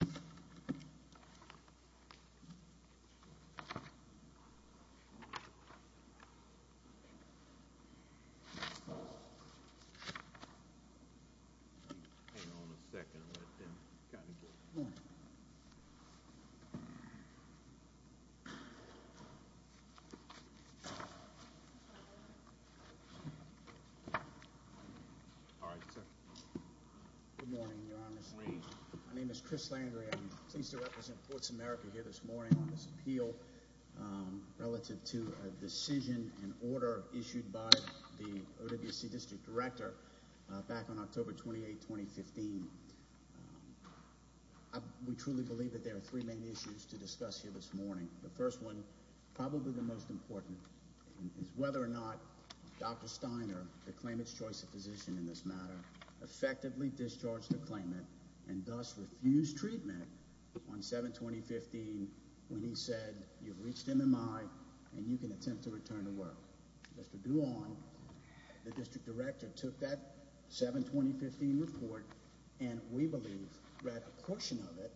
David Rildey, President and CEO and Chairman of Fitness Twistin Chalk Fist Morning Good Morning, Your Honorse My name is Chris Landry, I'm pleased to represent Ports America here this morning on this appeal Relative to a decision and order issued by the OWC district director back on October 28, 2015 We truly believe that there are three main issues to discuss here this morning the first one probably the most important is whether or not Dr. Steiner, the claimant's choice of physician in this matter Effectively discharged the claimant and thus refused treatment on 7-2015 When he said you've reached MMI and you can attempt to return to work. Mr. Duong the district director took that 7-2015 report and we believe read a portion of it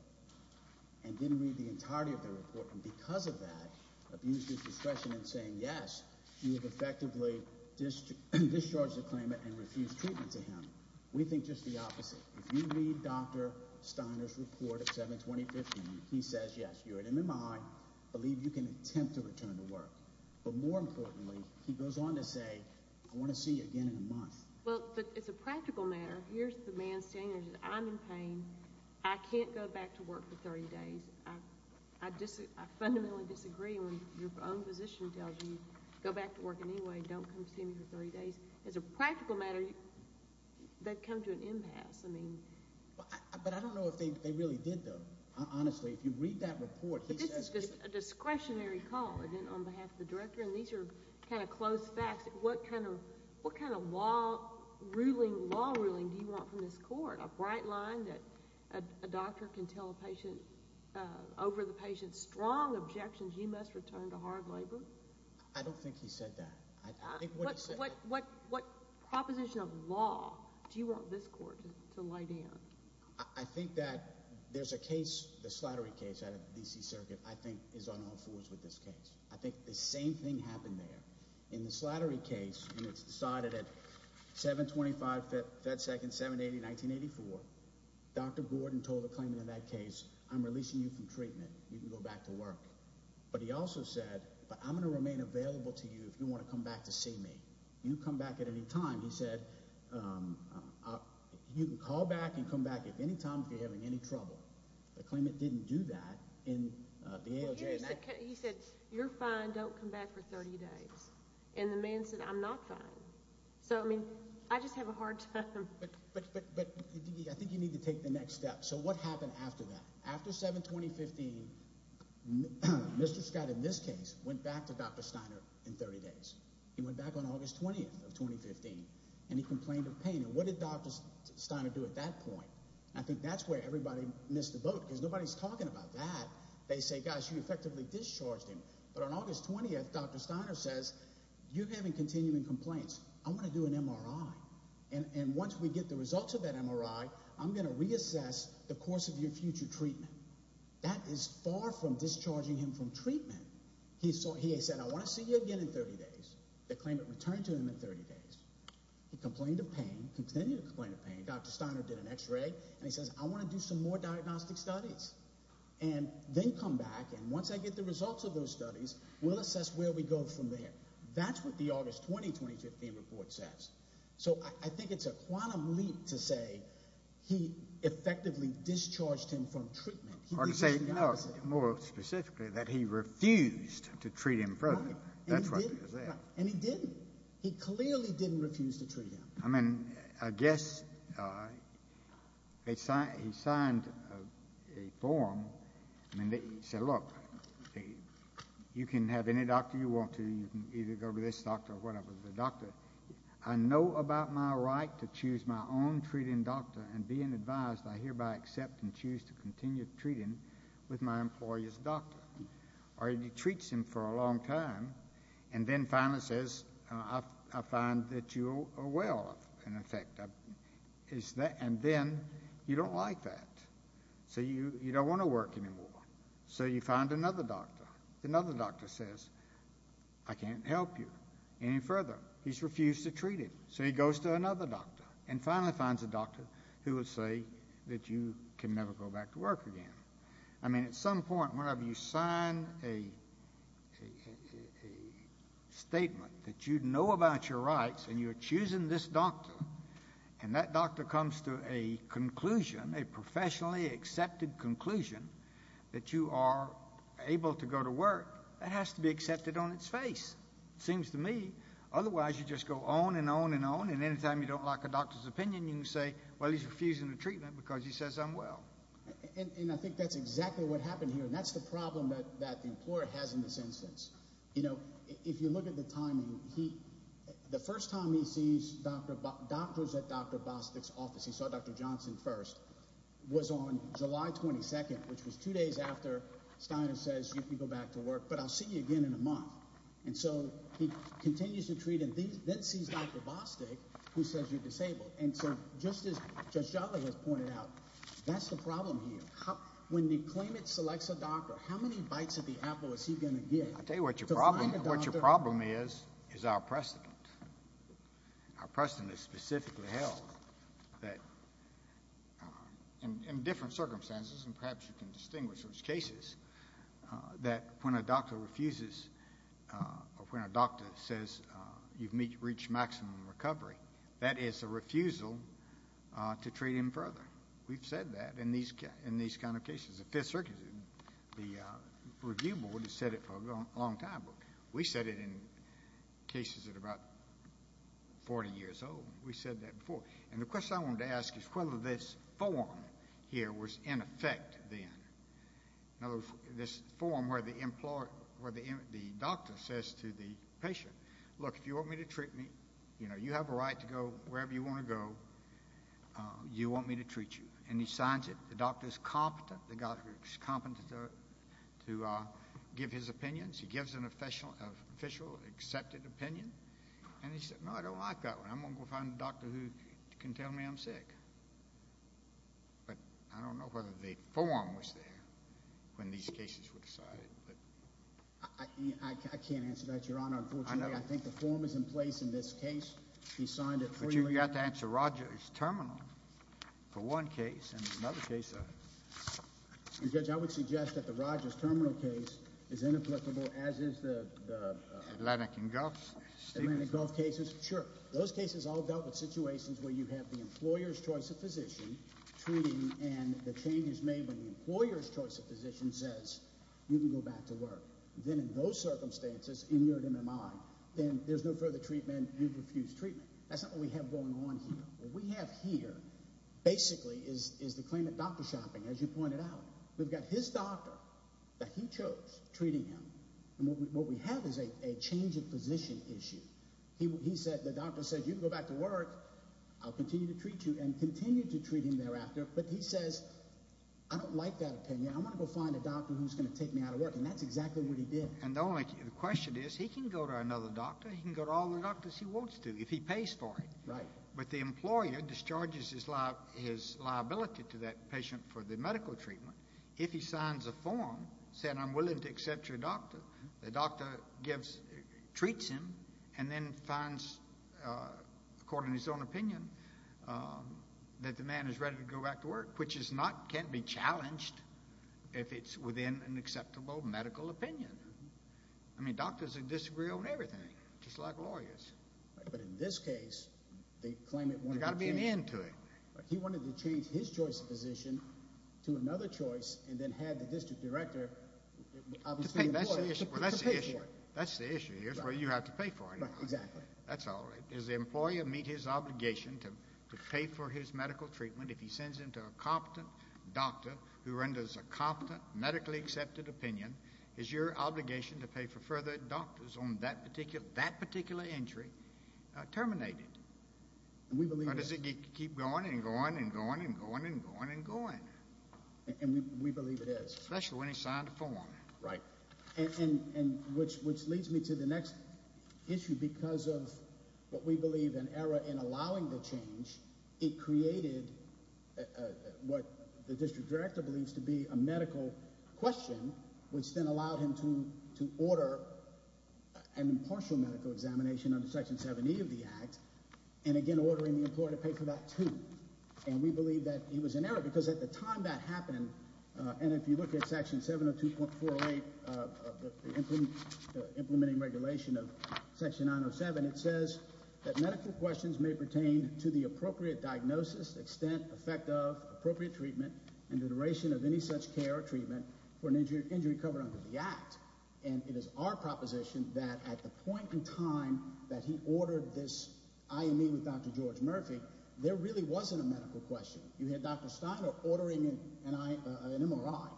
and Didn't read the entirety of the report and because of that abused his discretion in saying yes, you have effectively Discharged the claimant and refused treatment to him. We think just the opposite if you read Dr. Steiner's report of 7-2015. He says yes, you're an MMI Believe you can attempt to return to work, but more importantly he goes on to say I want to see you again in a month Well, but it's a practical matter. Here's the man standing. I'm in pain. I can't go back to work for 30 days I Fundamentally disagree when your own physician tells you go back to work. Anyway, don't come see me for 30 days as a practical matter They've come to an impasse. I mean But I don't know if they really did though Honestly, if you read that report, this is a discretionary call and then on behalf of the director and these are kind of close facts What kind of what kind of law? Ruling law ruling do you want from this court a bright line that a doctor can tell a patient? Over the patient's strong objections. You must return to hard labor. I don't think he said that What what what proposition of law do you want this court to lay down? I think that there's a case the slattery case out of the DC Circuit. I think is on all fours with this case I think the same thing happened there in the slattery case. It's decided at 725 that second 780 1984 Dr. Gordon told the claimant in that case. I'm releasing you from treatment. You can go back to work But he also said but I'm gonna remain available to you if you want to come back to see me You come back at any time. He said You can call back and come back at any time if you're having any trouble the claimant didn't do that in He said you're fine. Don't come back for 30 days and the man said I'm not fine So, I mean, I just have a hard time So what happened after that after 7 2015 Mr. Scott in this case went back to dr. Steiner in 30 days He went back on August 20th of 2015 and he complained of pain and what did dr. Steiner do at that point? I think that's where everybody missed the boat because nobody's talking about that. They say gosh you effectively discharged him But on August 20th, dr. Steiner says you're having continuing complaints I'm gonna do an MRI and and once we get the results of that MRI I'm gonna reassess the course of your future treatment. That is far from discharging him from treatment He saw he said I want to see you again in 30 days the claimant returned to him in 30 days He complained of pain continued to complain of pain. Dr. Steiner did an x-ray and he says I want to do some more diagnostic studies and Then come back and once I get the results of those studies, we'll assess where we go from there That's what the August 20 2015 report says. So I think it's a quantum leap to say he Effectively discharged him from treatment or to say, you know more specifically that he refused to treat him further And he didn't he clearly didn't refuse to treat him. I mean, I guess They signed he signed a form and they said look Hey You can have any doctor you want to you can either go to this doctor or whatever the doctor I know about my right to choose my own treating doctor and being advised I hereby accept and choose to continue treating with my employees doctor Or he treats him for a long time and then finally says I find that you are well in effect Is that and then you don't like that? So you you don't want to work anymore so you find another doctor another doctor says I Can't help you any further. He's refused to treat him So he goes to another doctor and finally finds a doctor who would say that you can never go back to work again I mean at some point whenever you sign a Statement that you'd know about your rights and you're choosing this doctor and that doctor comes to a Professionally accepted conclusion that you are able to go to work. It has to be accepted on its face It seems to me Otherwise, you just go on and on and on and anytime you don't like a doctor's opinion You can say well, he's refusing the treatment because he says I'm well And I think that's exactly what happened here. That's the problem that that the employer has in this instance You know, if you look at the timing he the first time he sees dr. Bob doctors at dr. Bostic's office He saw dr. Johnson first was on July 22nd, which was two days after Steiner says you can go back to work, but I'll see you again in a month And so he continues to treat and then sees dr. Bostic who says you're disabled And so just as just Java has pointed out, that's the problem here How when the claimant selects a doctor how many bites of the apple is he gonna get? I'll tell you what your problem what your problem is is our precedent Our precedent is specifically held that In different circumstances and perhaps you can distinguish those cases that when a doctor refuses Or when a doctor says you've meet reach maximum recovery. That is a refusal To treat him further. We've said that in these in these kind of cases the Fifth Circuit the Review Board has said it for a long time. We said it in cases at about Forty years old we said that before and the question I wanted to ask is whether this form here was in effect then Now this form where the employer where the the doctor says to the patient look if you want me to treat me You know, you have a right to go wherever you want to go You want me to treat you and he signs it the doctor is competent the guy who's competent to Give his opinions. He gives an official official accepted opinion, and he said no, I don't like that I'm gonna go find a doctor who can tell me I'm sick But I don't know whether the form was there when these cases were decided I think the form is in place in this case. He signed it for you. You got to answer Rogers terminal for one case and another case I Judge I would suggest that the Rogers terminal case is inapplicable as is the Atlantic and Gulf Gulf cases sure those cases all dealt with situations where you have the employers choice of physician Treating and the change is made when the employers choice of physician says you can go back to work then in those circumstances In your MMI, then there's no further treatment and refused treatment. That's not what we have going on here. We have here Basically is is the claimant doctor shopping as you pointed out? We've got his doctor that he chose treating him and what we have is a change of position issue He said the doctor said you can go back to work I'll continue to treat you and continue to treat him thereafter, but he says I don't like that opinion I'm gonna go find a doctor who's gonna take me out of work and that's exactly what he did and the only Question is he can go to another doctor. He can go to all the doctors He wants to if he pays for it, right? But the employer discharges his life his liability to that patient for the medical treatment if he signs a form Said I'm willing to accept your doctor. The doctor gives Treats him and then finds According his own opinion That the man is ready to go back to work, which is not can't be challenged if it's within an acceptable medical opinion I mean doctors are disagree on everything just like lawyers But in this case, they claim it got to be an end to it But he wanted to change his choice of position to another choice and then had the district director That's the issue here's where you have to pay for exactly that's all is the employer meet his obligation to pay for his medical Treatment if he sends him to a competent doctor who renders a competent medically accepted opinion is your obligation to pay for further? Doctors on that particular that particular injury terminated We believe does it keep going and going and going and going and going and going And we believe it is especially when he signed a form, right? Which which leads me to the next issue because of what we believe an error in allowing the change it created What the district director believes to be a medical question, which then allowed him to to order? an impartial medical examination under section 70 of the act and Again ordering the employer to pay for that too And we believe that he was an error because at the time that happened and if you look at section 702 point four eight Implementing regulation of section 907 it says that medical questions may pertain to the appropriate diagnosis extent effect of appropriate treatment and the duration of any such care or treatment for an injury injury covered under the act and It is our proposition that at the point in time that he ordered this IME with dr. George Murphy. There really wasn't a medical question. You had dr. Steiner ordering and I an MRI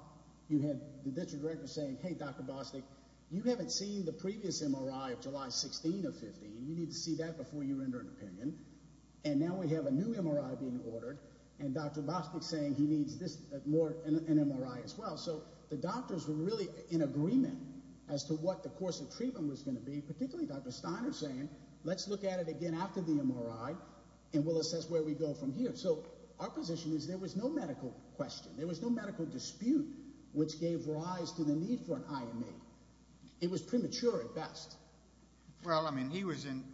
You had the district director saying hey, dr. Bostic You haven't seen the previous MRI of July 16 of 15 You need to see that before you render an opinion and now we have a new MRI being ordered and dr. Bostic saying he needs this more an MRI as well So the doctors were really in agreement as to what the course of treatment was going to be particularly dr. Steiner saying let's look at it again after the MRI and we'll assess where we go from here So our position is there was no medical question. There was no medical dispute which gave rise to the need for an IME It was premature at best Well, I mean he was in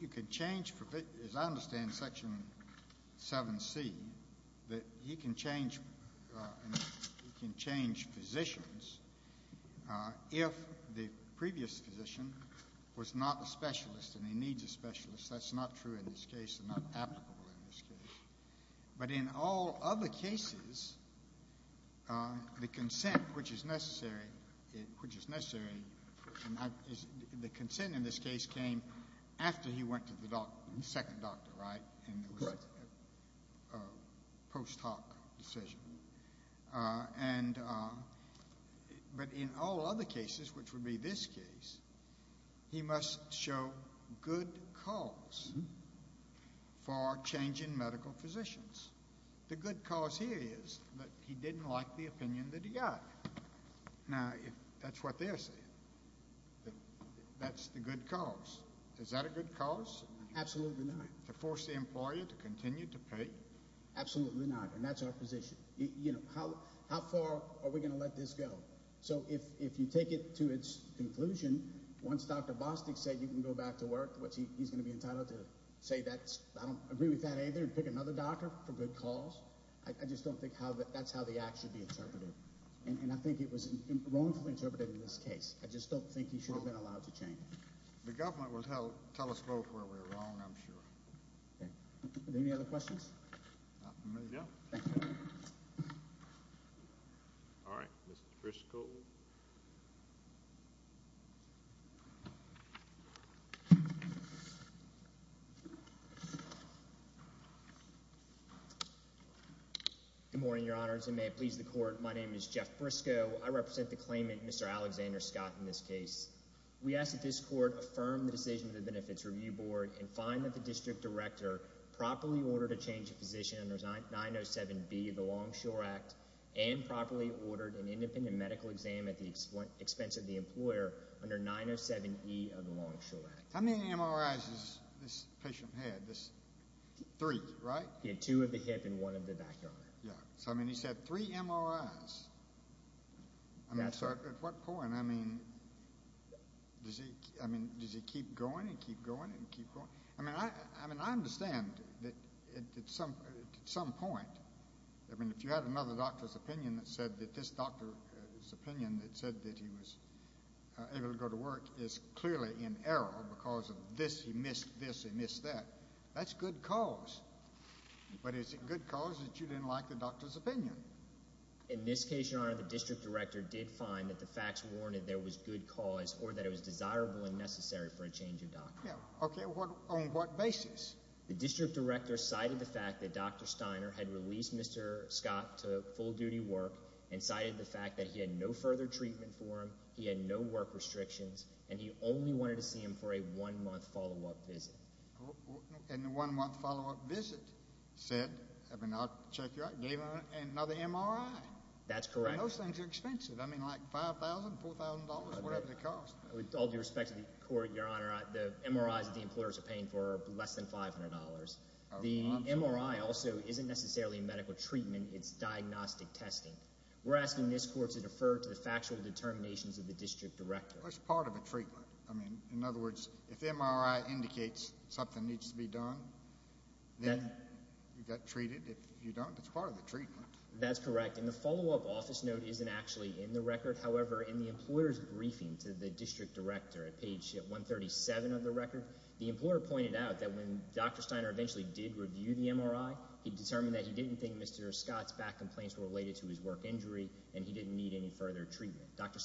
you could change for fit as I understand section 7c that you can change You can change physicians If the previous physician was not a specialist and he needs a specialist, that's not true in this case But in all other cases The consent which is necessary Which is necessary The consent in this case came after he went to the doc second doctor, right? A Post-hoc decision and But in all other cases which would be this case he must show good cause For changing medical physicians the good cause here is that he didn't like the opinion that he got Now if that's what they're saying That's the good cause is that a good cause absolutely not to force the employer to continue to pay Absolutely not and that's our position, you know, how how far are we gonna let this go? So if you take it to its conclusion once dr. Bostic said you can go back to work What's he's gonna be entitled to say that I don't agree with that either and pick another doctor for good cause I just don't think how that's how the act should be interpreted and I think it was wrongfully interpreted in this case I just don't think you should have been allowed to change the government will help tell us both where we're wrong. I'm sure Good morning, your honors and may it please the court. My name is Jeff Briscoe. I represent the claimant. Mr Alexander Scott in this case We asked that this court affirmed the decision of the Benefits Review Board and find that the district director properly ordered a change of position and there's not 907 be the Longshore Act and Properly ordered an independent medical exam at the expense of the employer under 907 e of the Longshore Act How many MRIs is this patient had this? Three, right? Yeah, two of the hip and one of the backyard. Yeah, so I mean he said three MRIs What point I mean Does he I mean, does he keep going and keep going and keep going? I mean, I I mean I understand that it's something at some point I mean if you had another doctor's opinion that said that this doctor his opinion that said that he was Able to go to work is clearly in error because of this he missed this and this that that's good cause But it's a good cause that you didn't like the doctor's opinion In this case your honor the district director did find that the facts warned there was good cause or that it was desirable and necessary For a change of doctor. Yeah. Okay. What on what basis the district director cited the fact that dr Steiner had released. Mr. Scott to full-duty work and cited the fact that he had no further treatment for him He had no work restrictions and he only wanted to see him for a one-month follow-up visit And the one-month follow-up visit said I mean I'll check you out gave him another MRI, that's correct Those things are expensive. I mean like five thousand four thousand dollars Whatever the cost with all due respect to the court your honor I the MRIs that the employers are paying for less than five hundred dollars. The MRI also isn't necessarily medical treatment It's diagnostic testing. We're asking this court to defer to the factual determinations of the district director. It's part of a treatment I mean in other words if MRI indicates something needs to be done Then you got treated if you don't it's part of the treatment. That's correct And the follow-up office note isn't actually in the record However in the employers briefing to the district director at page 137 of the record the employer pointed out that when dr. Steiner eventually did review the MRI he determined that he didn't think mr Scott's back complaints were related to his work injury, and he didn't need any further treatment. Dr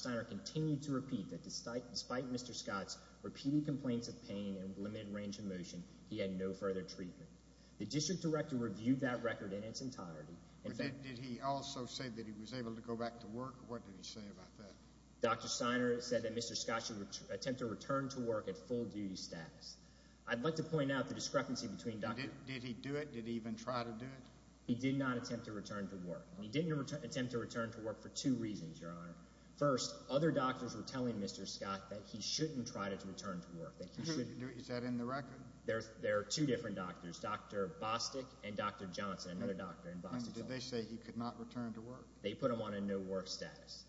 Repeating complaints of pain and limited range of motion. He had no further treatment. The district director reviewed that record in its entirety Did he also say that he was able to go back to work? What did he say about that? Dr. Steiner said that mr. Scott should attempt to return to work at full-duty status I'd like to point out the discrepancy between doctor. Did he do it? Did he even try to do it? He did not attempt to return to work. He didn't attempt to return to work for two reasons your honor first other doctors Were telling mr. Scott that he shouldn't try to return to work. Thank you. Is that in the record? There's there are two different doctors. Dr. Bostic and dr. Johnson another doctor in Boston Did they say he could not return to work? They put him on a no-work status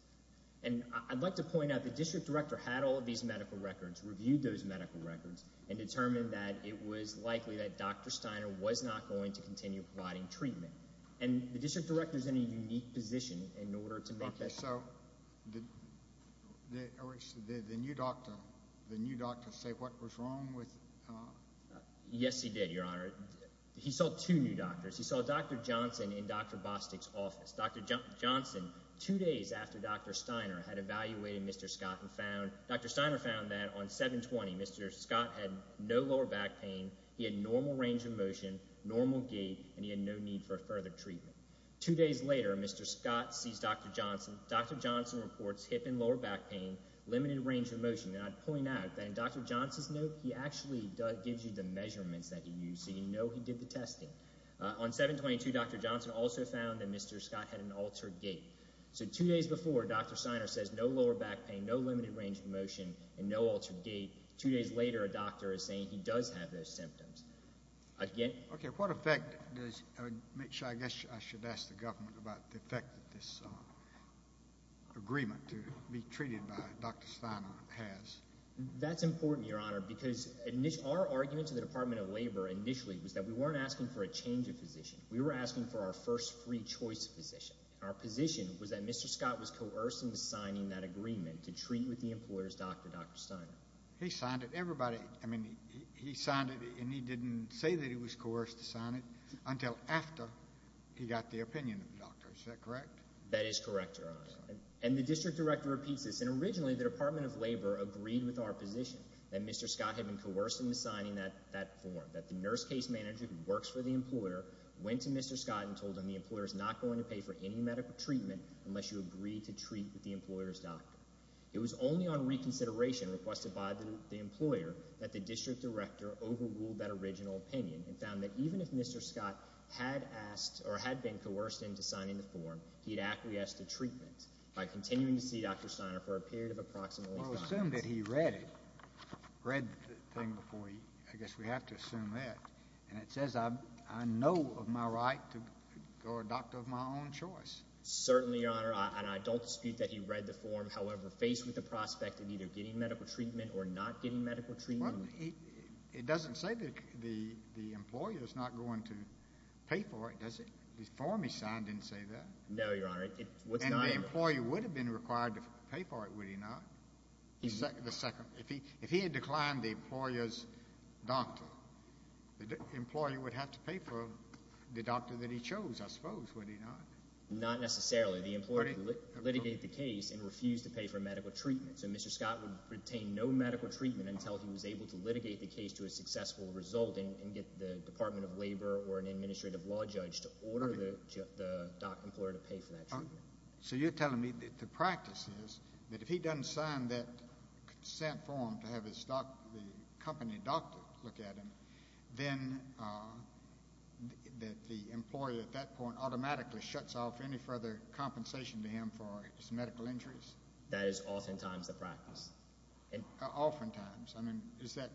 and I'd like to point out the district director had all of these medical records reviewed those medical records and Determined that it was likely that dr. Steiner was not going to continue providing treatment and the district director is in a unique position in order to make it so The New doctor the new doctor say what was wrong with Yes, he did your honor. He saw two new doctors. He saw dr. Johnson in dr. Bostic's office. Dr. Johnson two days after dr. Steiner had evaluated mr. Scott and found dr. Steiner found that on 720 mr Scott had no lower back pain. He had normal range of motion normal gait and he had no need for further treatment two days later Mr. Scott sees. Dr. Johnson. Dr. Johnson reports hip and lower back pain limited range of motion and I'd point out then dr Johnson's note. He actually gives you the measurements that he used so, you know, he did the testing on 722. Dr Johnson also found that mr. Scott had an altered gait. So two days before dr Steiner says no lower back pain no limited range of motion and no altered gait two days later A doctor is saying he does have those symptoms Okay, what effect does make sure I guess I should ask the government about the effect that this Agreement to be treated by dr. Steiner has That's important your honor because in this our argument to the Department of Labor initially was that we weren't asking for a change of position We were asking for our first free choice position. Our position was that mr Scott was coercing the signing that agreement to treat with the employers. Dr. Dr. Steiner. He signed it everybody I mean he signed it and he didn't say that he was coerced to sign it until after he got the opinion of doctors Is that correct? That is correct, your honor and the district director repeats this and originally the Department of Labor agreed with our position that mr Scott had been coerced into signing that that form that the nurse case manager who works for the employer Went to mr Scott and told him the employer is not going to pay for any medical treatment unless you agree to treat with the employers doctor It was only on reconsideration requested by the employer that the district director overruled that original opinion and found that even if mr Scott had asked or had been coerced into signing the form he had actually asked the treatment by continuing to see dr Steiner for a period of approximately He read it Read the thing before he I guess we have to assume that and it says I know of my right to Read the form however faced with the prospect of either getting medical treatment or not getting medical treatment It doesn't say that the the employer is not going to pay for it. Does it the form? He signed didn't say that. No, you're on it. What's not an employee would have been required to pay for it. Would he not? He's like the second if he if he had declined the employers doctor The employee would have to pay for the doctor that he chose I suppose Not necessarily the employee litigate the case and refused to pay for medical treatment So mr Scott would retain no medical treatment until he was able to litigate the case to a successful result and get the Department of Labor or an administrative law judge to order the Employer to pay for that. So you're telling me that the practice is that if he doesn't sign that Set for him to have his stock the company doctor look at him then The employee at that point automatically shuts off any further compensation to him for his medical injuries That is oftentimes the practice and oftentimes. I mean is that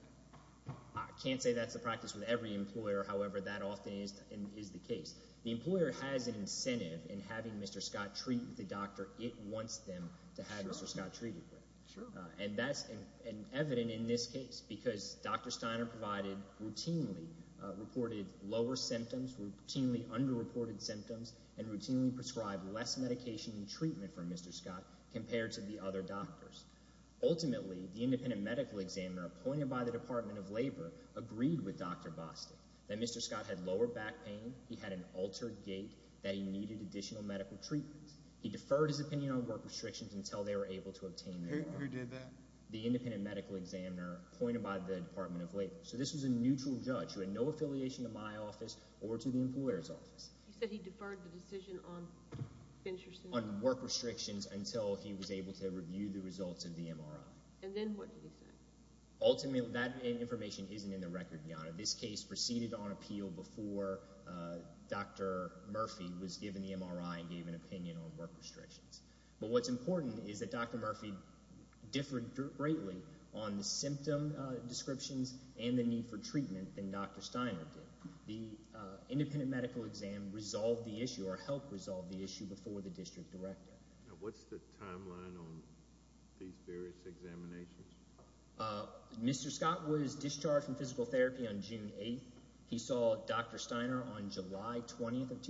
I Can't say that's the practice with every employer However, that often is and is the case the employer has an incentive in having mr Scott treat the doctor it wants them to have mr Scott treated with sure and that's an evident in this case because dr. Steiner provided routinely Reported lower symptoms routinely under reported symptoms and routinely prescribed less medication and treatment for mr Scott compared to the other doctors Ultimately the independent medical examiner appointed by the Department of Labor agreed with dr. Boston that mr. Scott had lower back pain He had an altered gait that he needed additional medical treatments He deferred his opinion on work restrictions until they were able to obtain The independent medical examiner appointed by the Department of Labor So this was a neutral judge who had no affiliation to my office or to the employer's office On work restrictions until he was able to review the results of the MRI Ultimately that information isn't in the record beyond this case proceeded on appeal before Dr. Murphy was given the MRI and gave an opinion on work restrictions. But what's important is that? Dr. Murphy Differed greatly on the symptom descriptions and the need for treatment than dr. Steiner did the Independent medical exam resolved the issue or help resolve the issue before the district director Mr. Scott was discharged from physical therapy on June 8th. He saw dr. Steiner on July 20th of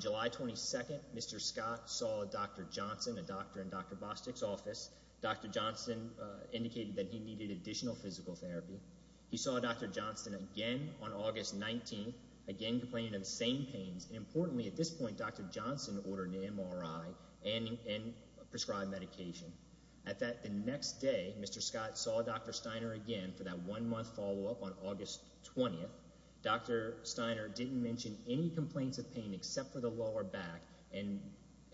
July 22nd. Mr. Scott saw a dr. Johnson a doctor in dr. Bostick's office. Dr. Johnson Indicated that he needed additional physical therapy. He saw a dr. Johnston again on August 19th again complaining of the same pains Importantly at this point, dr. Johnston ordered an MRI and Prescribed medication at that the next day. Mr. Scott saw dr. Steiner again for that one month follow-up on August 20th Dr. Steiner didn't mention any complaints of pain except for the lower back and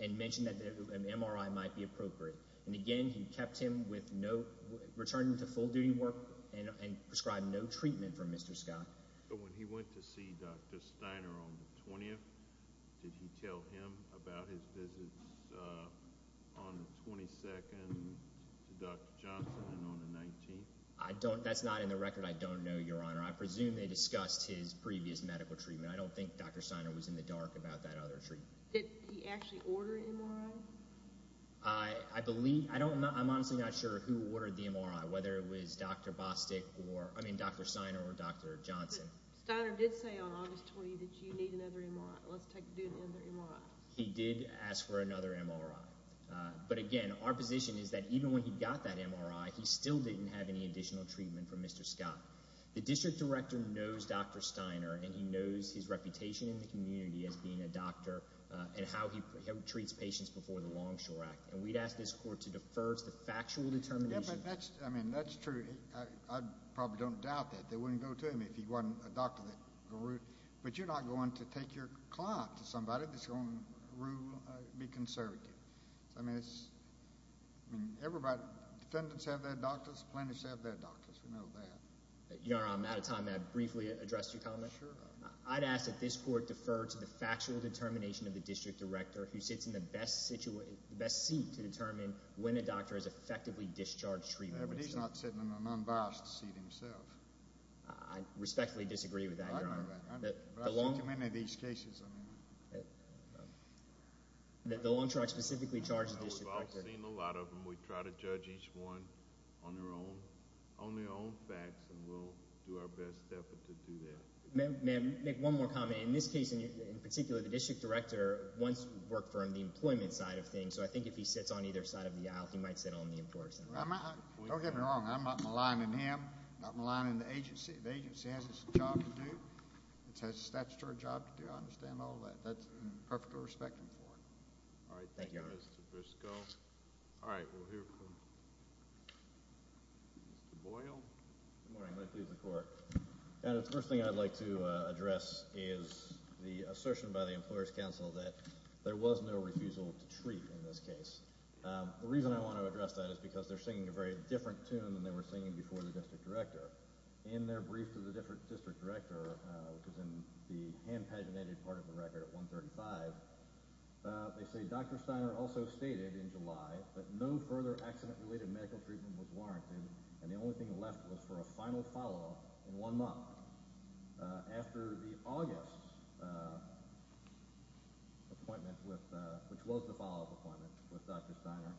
And mentioned that the MRI might be appropriate. And again, he kept him with no Returning to full duty work and and prescribed no treatment for mr. Scott, but when he went to see dr. Steiner on the 20th Did he tell him about his visits? I Don't that's not in the record. I don't know your honor. I presume they discussed his previous medical treatment I don't think dr. Steiner was in the dark about that other treatment I Believe I don't know. I'm honestly not sure who ordered the MRI whether it was dr. Bostick or I mean, dr Steiner or dr. Johnson Steiner did say on August 20th that you need another MRI. He did ask for another MRI But again, our position is that even when he got that MRI, he still didn't have any additional treatment for mr Scott the district director knows dr. Steiner and he knows his reputation in the community as being a doctor And how he treats patients before the Longshore Act and we'd asked this court to defer the factual determination I mean, that's true. I probably don't doubt that they wouldn't go to him if he wasn't a doctor that But you're not going to take your client to somebody that's going to rule be conservative. I mean, it's Everybody defendants have their doctors plaintiffs have their doctors. We know that you know, I'm out of time I briefly addressed your comment Sure I'd ask that this court defer to the factual determination of the district director who sits in the best situation the best seat to determine When a doctor is effectively discharged treatment, but he's not sitting in an unbiased seat himself. I Respectfully disagree with that many of these cases That the long track specifically charges A lot of them we try to judge each one on their own on their own facts And we'll do our best effort to do that May I make one more comment in this case in particular the district director once worked for him the employment side of things So I think if he sits on either side of the aisle, he might sit on the importance Don't get me wrong. I'm not maligning him not maligning the agency the agency has this job to do It says the statutory job to do I understand all that that's perfectly respecting for it. All right And the first thing I'd like to address is The assertion by the Employers Council that there was no refusal to treat in this case The reason I want to address that is because they're singing a very different tune than they were singing before the district director In their brief to the different district director, which is in the hand paginated part of the record at 135 They say dr. Steiner also stated in July But no further accident related medical treatment was warranted and the only thing left was for a final follow-up in one month After the August Appointment with which was the follow-up appointment with dr. Steiner.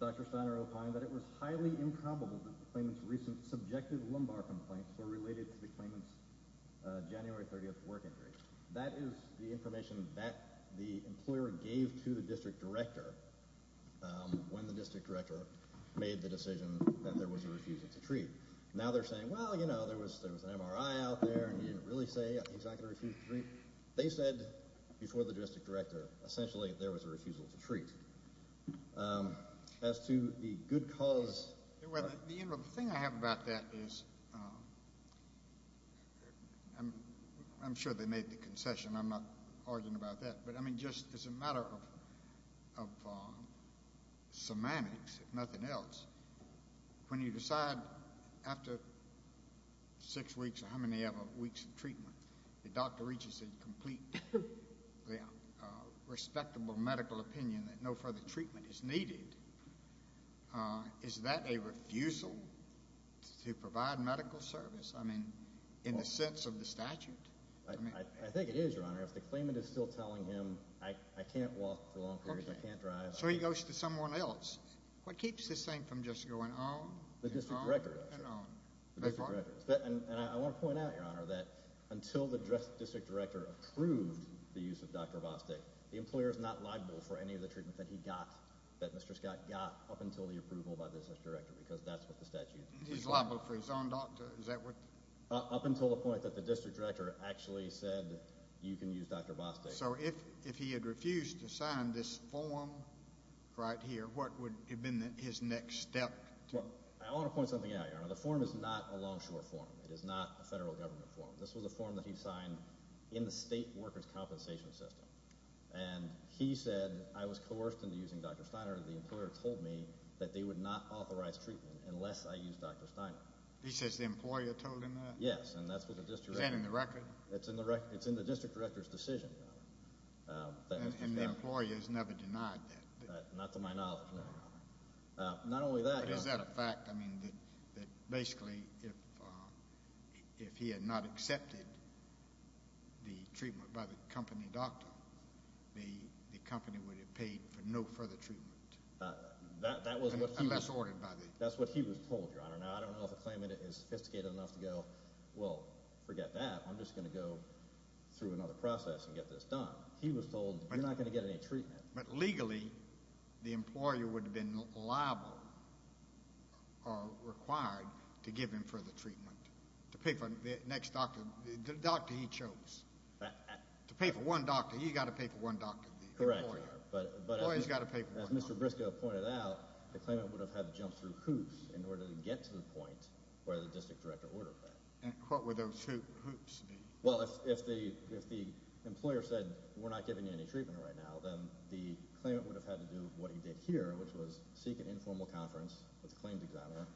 Dr. Steiner opined that it was highly improbable The claims recent subjective lumbar complaints were related to the claimants January 30th work injury. That is the information that the employer gave to the district director When the district director made the decision that there was a refusal to treat now, they're saying well, you know There was there was an MRI out there and he didn't really say he's not gonna refuse to treat They said before the district director essentially there was a refusal to treat As to the good cause I'm sure they made the concession. I'm not arguing about that. But I mean just as a matter of Semantics if nothing else when you decide after Six weeks or how many ever weeks of treatment the doctor reaches a complete Respectable medical opinion that no further treatment is needed Is that a refusal? To provide medical service. I mean in the sense of the statute I think it is your honor if the claimant is still telling him. I can't walk for long. I can't drive So he goes to someone else what keeps this thing from just going on the district record And I want to point out your honor that until the dress district director approved the use of dr Bostic the employers not liable for any of the treatment that he got that mr Scott got up until the approval by business director because that's what the statute is liable for his own doctor Is that what up until the point that the district director actually said you can use dr Bostic, so if if he had refused to sign this form Right here. What would have been his next step? The form is not a longshore form. It is not a federal government form this was a form that he signed in the state workers compensation system and He said I was coerced into using dr. Steiner. The employer told me that they would not authorize treatment unless I use dr Steiner he says the employer told him that yes, and that's what the district in the record. It's in the record It's in the district director's decision And the employer has never denied that not to my knowledge Not only that is that a fact I mean that basically if If he had not accepted The treatment by the company doctor the the company would have paid for no further treatment That's what he was told Sophisticated enough to go. Well forget that I'm just gonna go Through another process and get this done. He was told I'm not going to get any treatment, but legally The employer would have been liable Required to give him for the treatment to pay for the next doctor the doctor he chose To pay for one doctor. You got to pay for one doctor Mr. Briscoe pointed out the claimant would have had to jump through hoops in order to get to the point where the district director Ordered that and what were those two hoops? Well, if the if the employer said we're not giving you any treatment right now Then the claimant would have had to do what he did here which was seek an informal conference with the claims examiner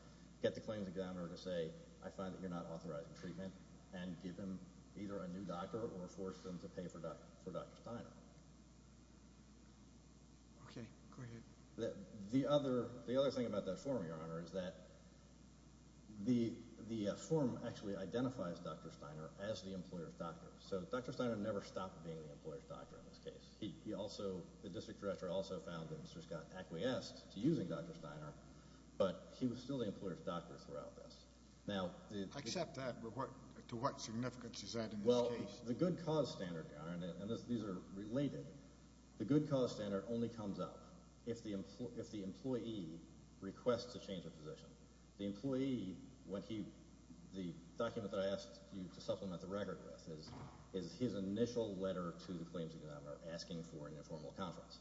get the claims examiner to say I find that you're not authorizing treatment and Give him either a new doctor or force them to pay for that for dr. Steiner Okay, the other the other thing about that form your honor is that The the form actually identifies dr. Steiner as the employers doctor So dr. Steiner never stopped being the employer's doctor in this case. He also the district director also found that mr. Scott acquiesced to using dr. Steiner, but he was still the employer's doctor throughout this now Accept that but what to what significance is that? Well, the good cause standard and these are related the good cause standard only comes up if the employee if the employee Requests a change of position the employee when he the document that I asked you to supplement the record with is His initial letter to the claims examiner asking for an informal conference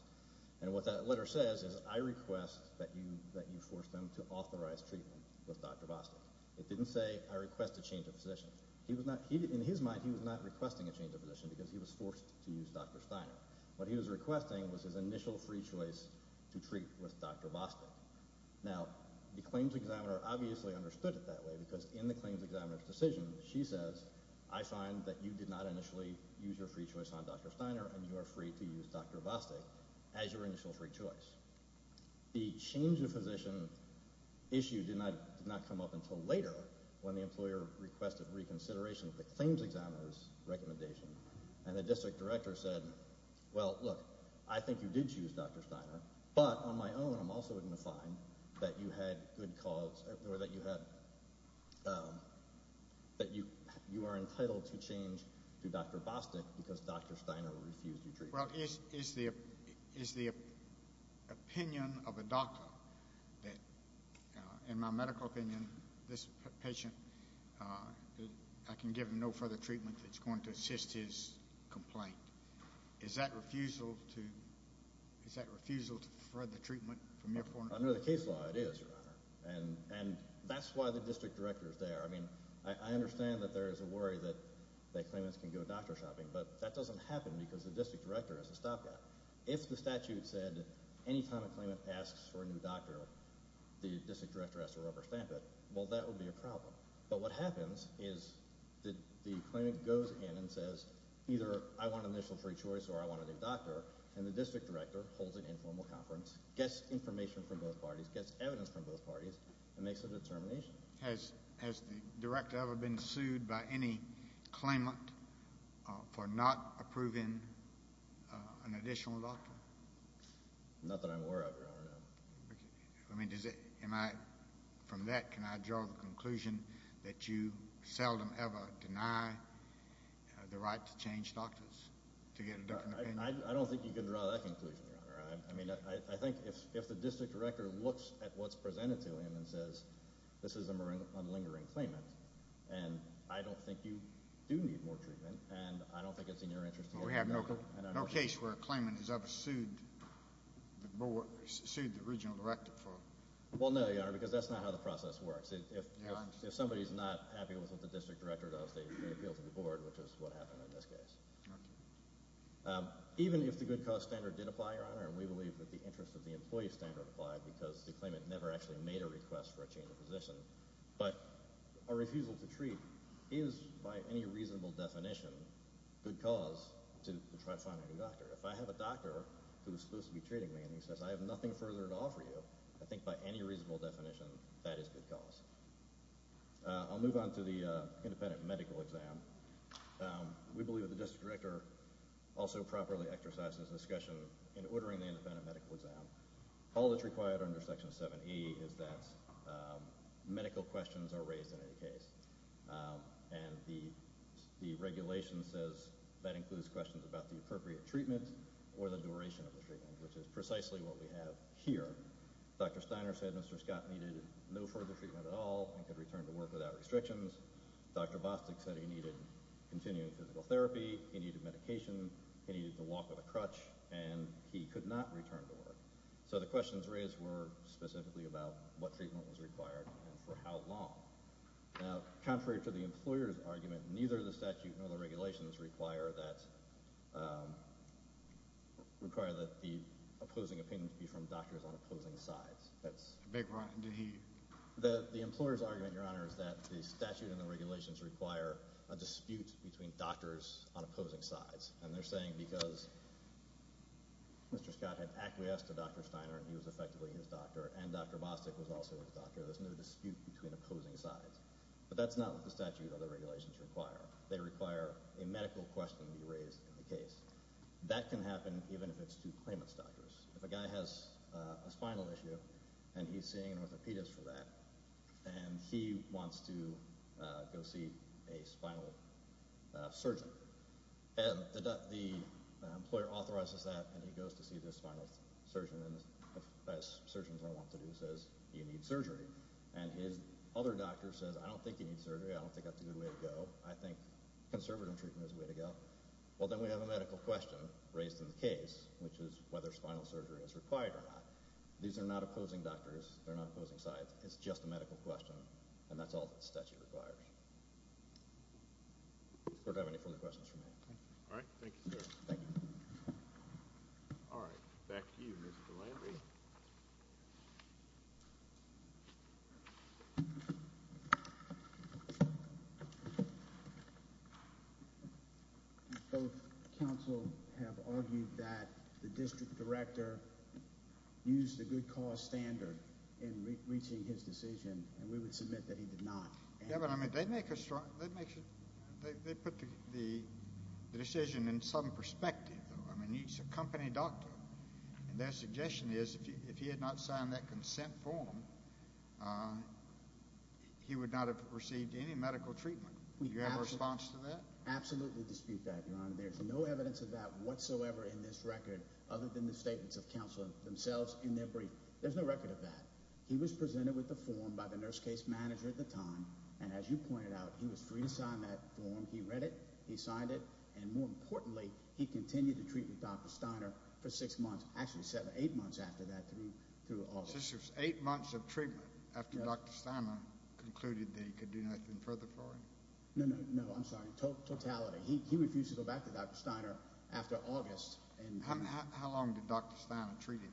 And what that letter says is I request that you that you force them to authorize treatment with dr. Boston It didn't say I request a change of position. He was not he did in his mind He was not requesting a change of position because he was forced to use dr. Steiner What he was requesting was his initial free choice to treat with dr. Boston now the claims examiner Obviously understood it that way because in the claims examiner's decision She says I find that you did not initially use your free choice on dr. Steiner and you are free to use dr Boston as your initial free choice the change of position Issue did not not come up until later when the employer requested reconsideration of the claims examiner's Well, look, I think you did use dr. Steiner, but on my own I'm also going to find that you had good cause or that you had That you you are entitled to change to dr. Boston because dr. Steiner refused you drink Well is is the is the? opinion of a doctor that in my medical opinion this patient I Can give him no further treatment that's going to assist his complaint Is that refusal to? Is that refusal to further treatment from your point under the case law? It is your honor and and that's why the district director is there I mean I understand that there is a worry that They claimants can go doctor shopping But that doesn't happen because the district director has to stop that if the statute said Any time a claimant asks for a new doctor the district director has to rubber stamp it Well, that would be a problem But what happens is that the claimant goes in and says either I want an initial free choice Or I want a new doctor and the district director holds an informal conference Gets information from both parties gets evidence from both parties and makes a determination Has has the director ever been sued by any? claimant for not approving an additional doctor Not that I'm aware of I mean does it am I from that? Can I draw the conclusion that you seldom ever deny? The right to change doctors to get it done. I don't think you can draw that conclusion I mean, I think if the district director looks at what's presented to him and says this is a marine unlingering claimant And I don't think you do need more treatment and I don't think it's in your interest We have no case where a claimant is ever sued More sued the original director for well, no, you are because that's not how the process works If somebody's not happy with what the district director does they appeal to the board, which is what happened in this case Even if the good cause standard did apply your honor and we believe that the interest of the employee standard applied because the claimant never Actually made a request for a change of position But a refusal to treat is by any reasonable definition Good cause to try to find a new doctor If I have a doctor who's supposed to be treating me and he says I have nothing further to offer you I think by any reasonable definition that is good cause I'll move on to the independent medical exam We believe that the district director also properly exercises discussion in ordering the independent medical exam all that's required under section 7e is that Medical questions are raised in any case And the The regulation says that includes questions about the appropriate treatment or the duration of the treatment, which is precisely what we have here Dr. Steiner said mr. Scott needed no further treatment at all and could return to work without restrictions Dr. Bostic said he needed continuing physical therapy. He needed medication He needed to walk with a crutch and he could not return to work So the questions raised were specifically about what treatment was required and for how long? Contrary to the employers argument neither the statute nor the regulations require that Require that the opposing opinion to be from doctors on opposing sides That's a big one Do he the the employers argument your honor is that the statute and the regulations require a dispute between doctors on opposing sides? and they're saying because Mr. Scott had acquiesced to dr. Steiner and he was effectively his doctor and dr. Bostic was also a doctor There's no dispute between opposing sides, but that's not what the statute other regulations require They require a medical question to be raised in the case that can happen even if it's to claimant's doctors if a guy has a spinal issue and he's seeing an orthopedist for that and He wants to go see a spinal surgeon and the employer authorizes that and he goes to see this final surgeon and Surgeons I want to do says you need surgery and his other doctor says I don't think you need surgery I don't think that's a good way to go. I think Conservative treatment is a way to go Well, then we have a medical question raised in the case, which is whether spinal surgery is required or not These are not opposing doctors. They're not opposing sides. It's just a medical question and that's all that statute requires Or to have any further questions for me Oh Counsel have argued that the district director Used the good cause standard in reaching his decision and we would submit that he did not Yeah, but I mean they make a strong that makes it they put the Decision in some perspective, I mean he's a company doctor and their suggestion is if he had not signed that consent form He would not have received any medical treatment we have a response to that absolutely dispute that there's no evidence of that whatsoever In this record other than the statements of counsel themselves in their brief. There's no record of that He was presented with the form by the nurse case manager at the time and as you pointed out He was free to sign that form. He read it. He signed it and more importantly he continued to treat with dr Steiner for six months actually seven eight months after that three through all sisters eight months of treatment after dr Steiner concluded they could do nothing further for him. No, no. No, I'm sorry. Talk totality He refused to go back to dr. Steiner after August and how long did dr. Steiner treated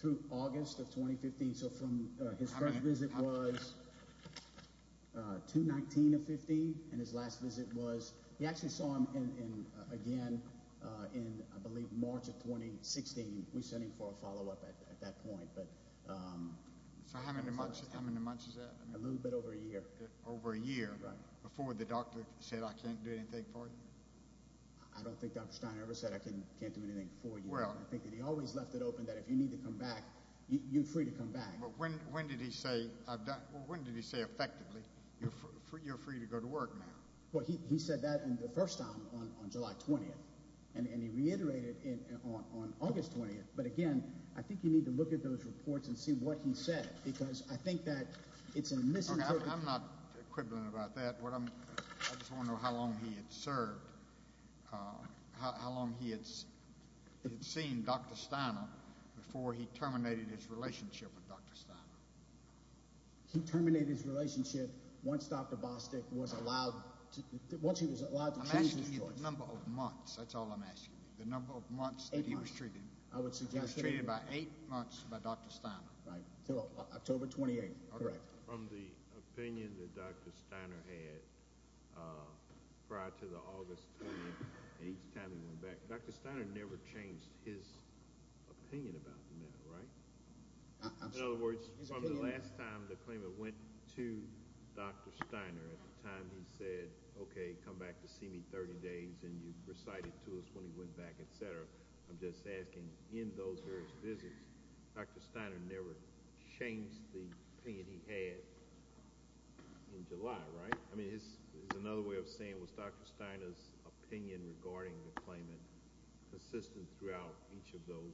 through August of 2015? So from his first visit was To 19 of 15 and his last visit was he actually saw him in again In I believe March of 2016. We sent him for a follow-up at that point, but So how many months how many months is that a little bit over a year over a year? Before the doctor said I can't do anything for you. I Don't think dr. Steiner ever said I can can't do anything for you Well, I think that he always left it open that if you need to come back you free to come back When did he say I've done when did he say effectively you're free to go to work now Well, he said that in the first time on July 20th, and he reiterated it on August 20th But again, I think you need to look at those reports and see what he said because I think that it's a misinterpretation I'm not equivalent about that what I'm I just want to know how long he had served How long he had Seen dr. Steiner before he terminated his relationship with dr. Stein He terminated his relationship once. Dr. Bostick was allowed Once he was allowed to change his number of months. That's all I'm asking the number of months. He was treated I would suggest treated by eight months by dr. Stein right till October 28. All right The opinion that dr. Steiner had Prior to the August Dr. Steiner never changed his opinion about the matter, right? In other words the last time the claimant went to dr. Steiner at the time He said okay come back to see me 30 days and you recited to us when he went back, etc I'm just asking in those visits. Dr. Steiner never changed the pain he had In July, right? I mean it's another way of saying was dr. Steiner's opinion regarding the claimant Consistent throughout each of those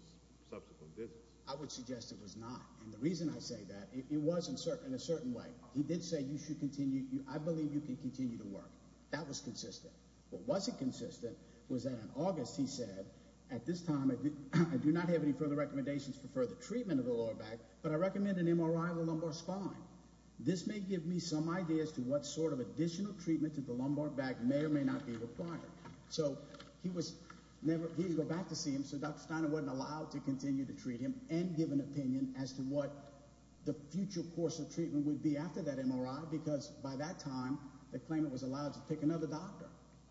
subsequent visits. I would suggest it was not and the reason I say that it wasn't certain a certain way He did say you should continue you. I believe you can continue to work. That was consistent What was it consistent was that in August? He said at this time, I do not have any further recommendations for further treatment of the lower back But I recommend an MRI of the lumbar spine This may give me some ideas to what sort of additional treatment to the lumbar back may or may not be required So he was never he go back to see him so dr. Steiner wasn't allowed to continue to treat him and give an opinion as to what The future course of treatment would be after that MRI because by that time the claimant was allowed to pick another doctor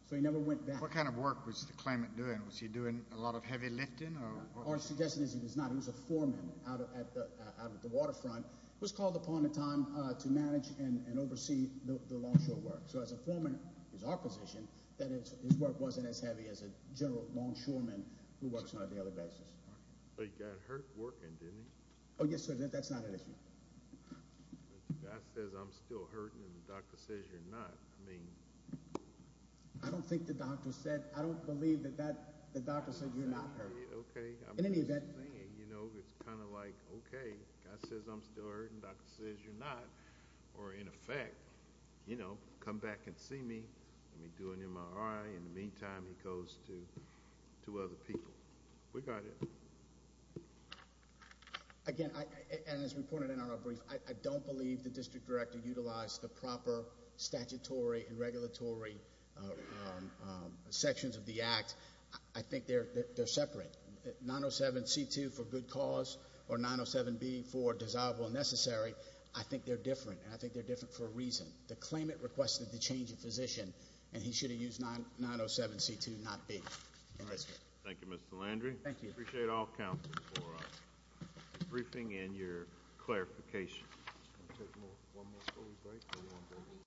So he never went back. What kind of work was the claimant doing? Doing a lot of heavy lifting or Our suggestion is he was not he was a foreman out at the waterfront was called upon a time to manage and oversee So as a foreman is our position that it's his work wasn't as heavy as a general longshoreman who works on the other basis Oh, yes, sir, that's not an issue I I Don't think the doctor said I don't believe that that the doctor said you're not In any event, you know, it's kind of like, okay I says I'm still hurting doctor says you're not or in effect, you know, come back and see me Let me do an MRI in the meantime. He goes to Other people we got it Again and as reported in our brief, I don't believe the district director utilized the proper statutory and regulatory Sections of the act I think they're they're separate 907 c2 for good cause or 907 B for dissolvable necessary I think they're different and I think they're different for a reason the claimant requested the change of physician and he should have used 907 c2 not be Briefing in your clarification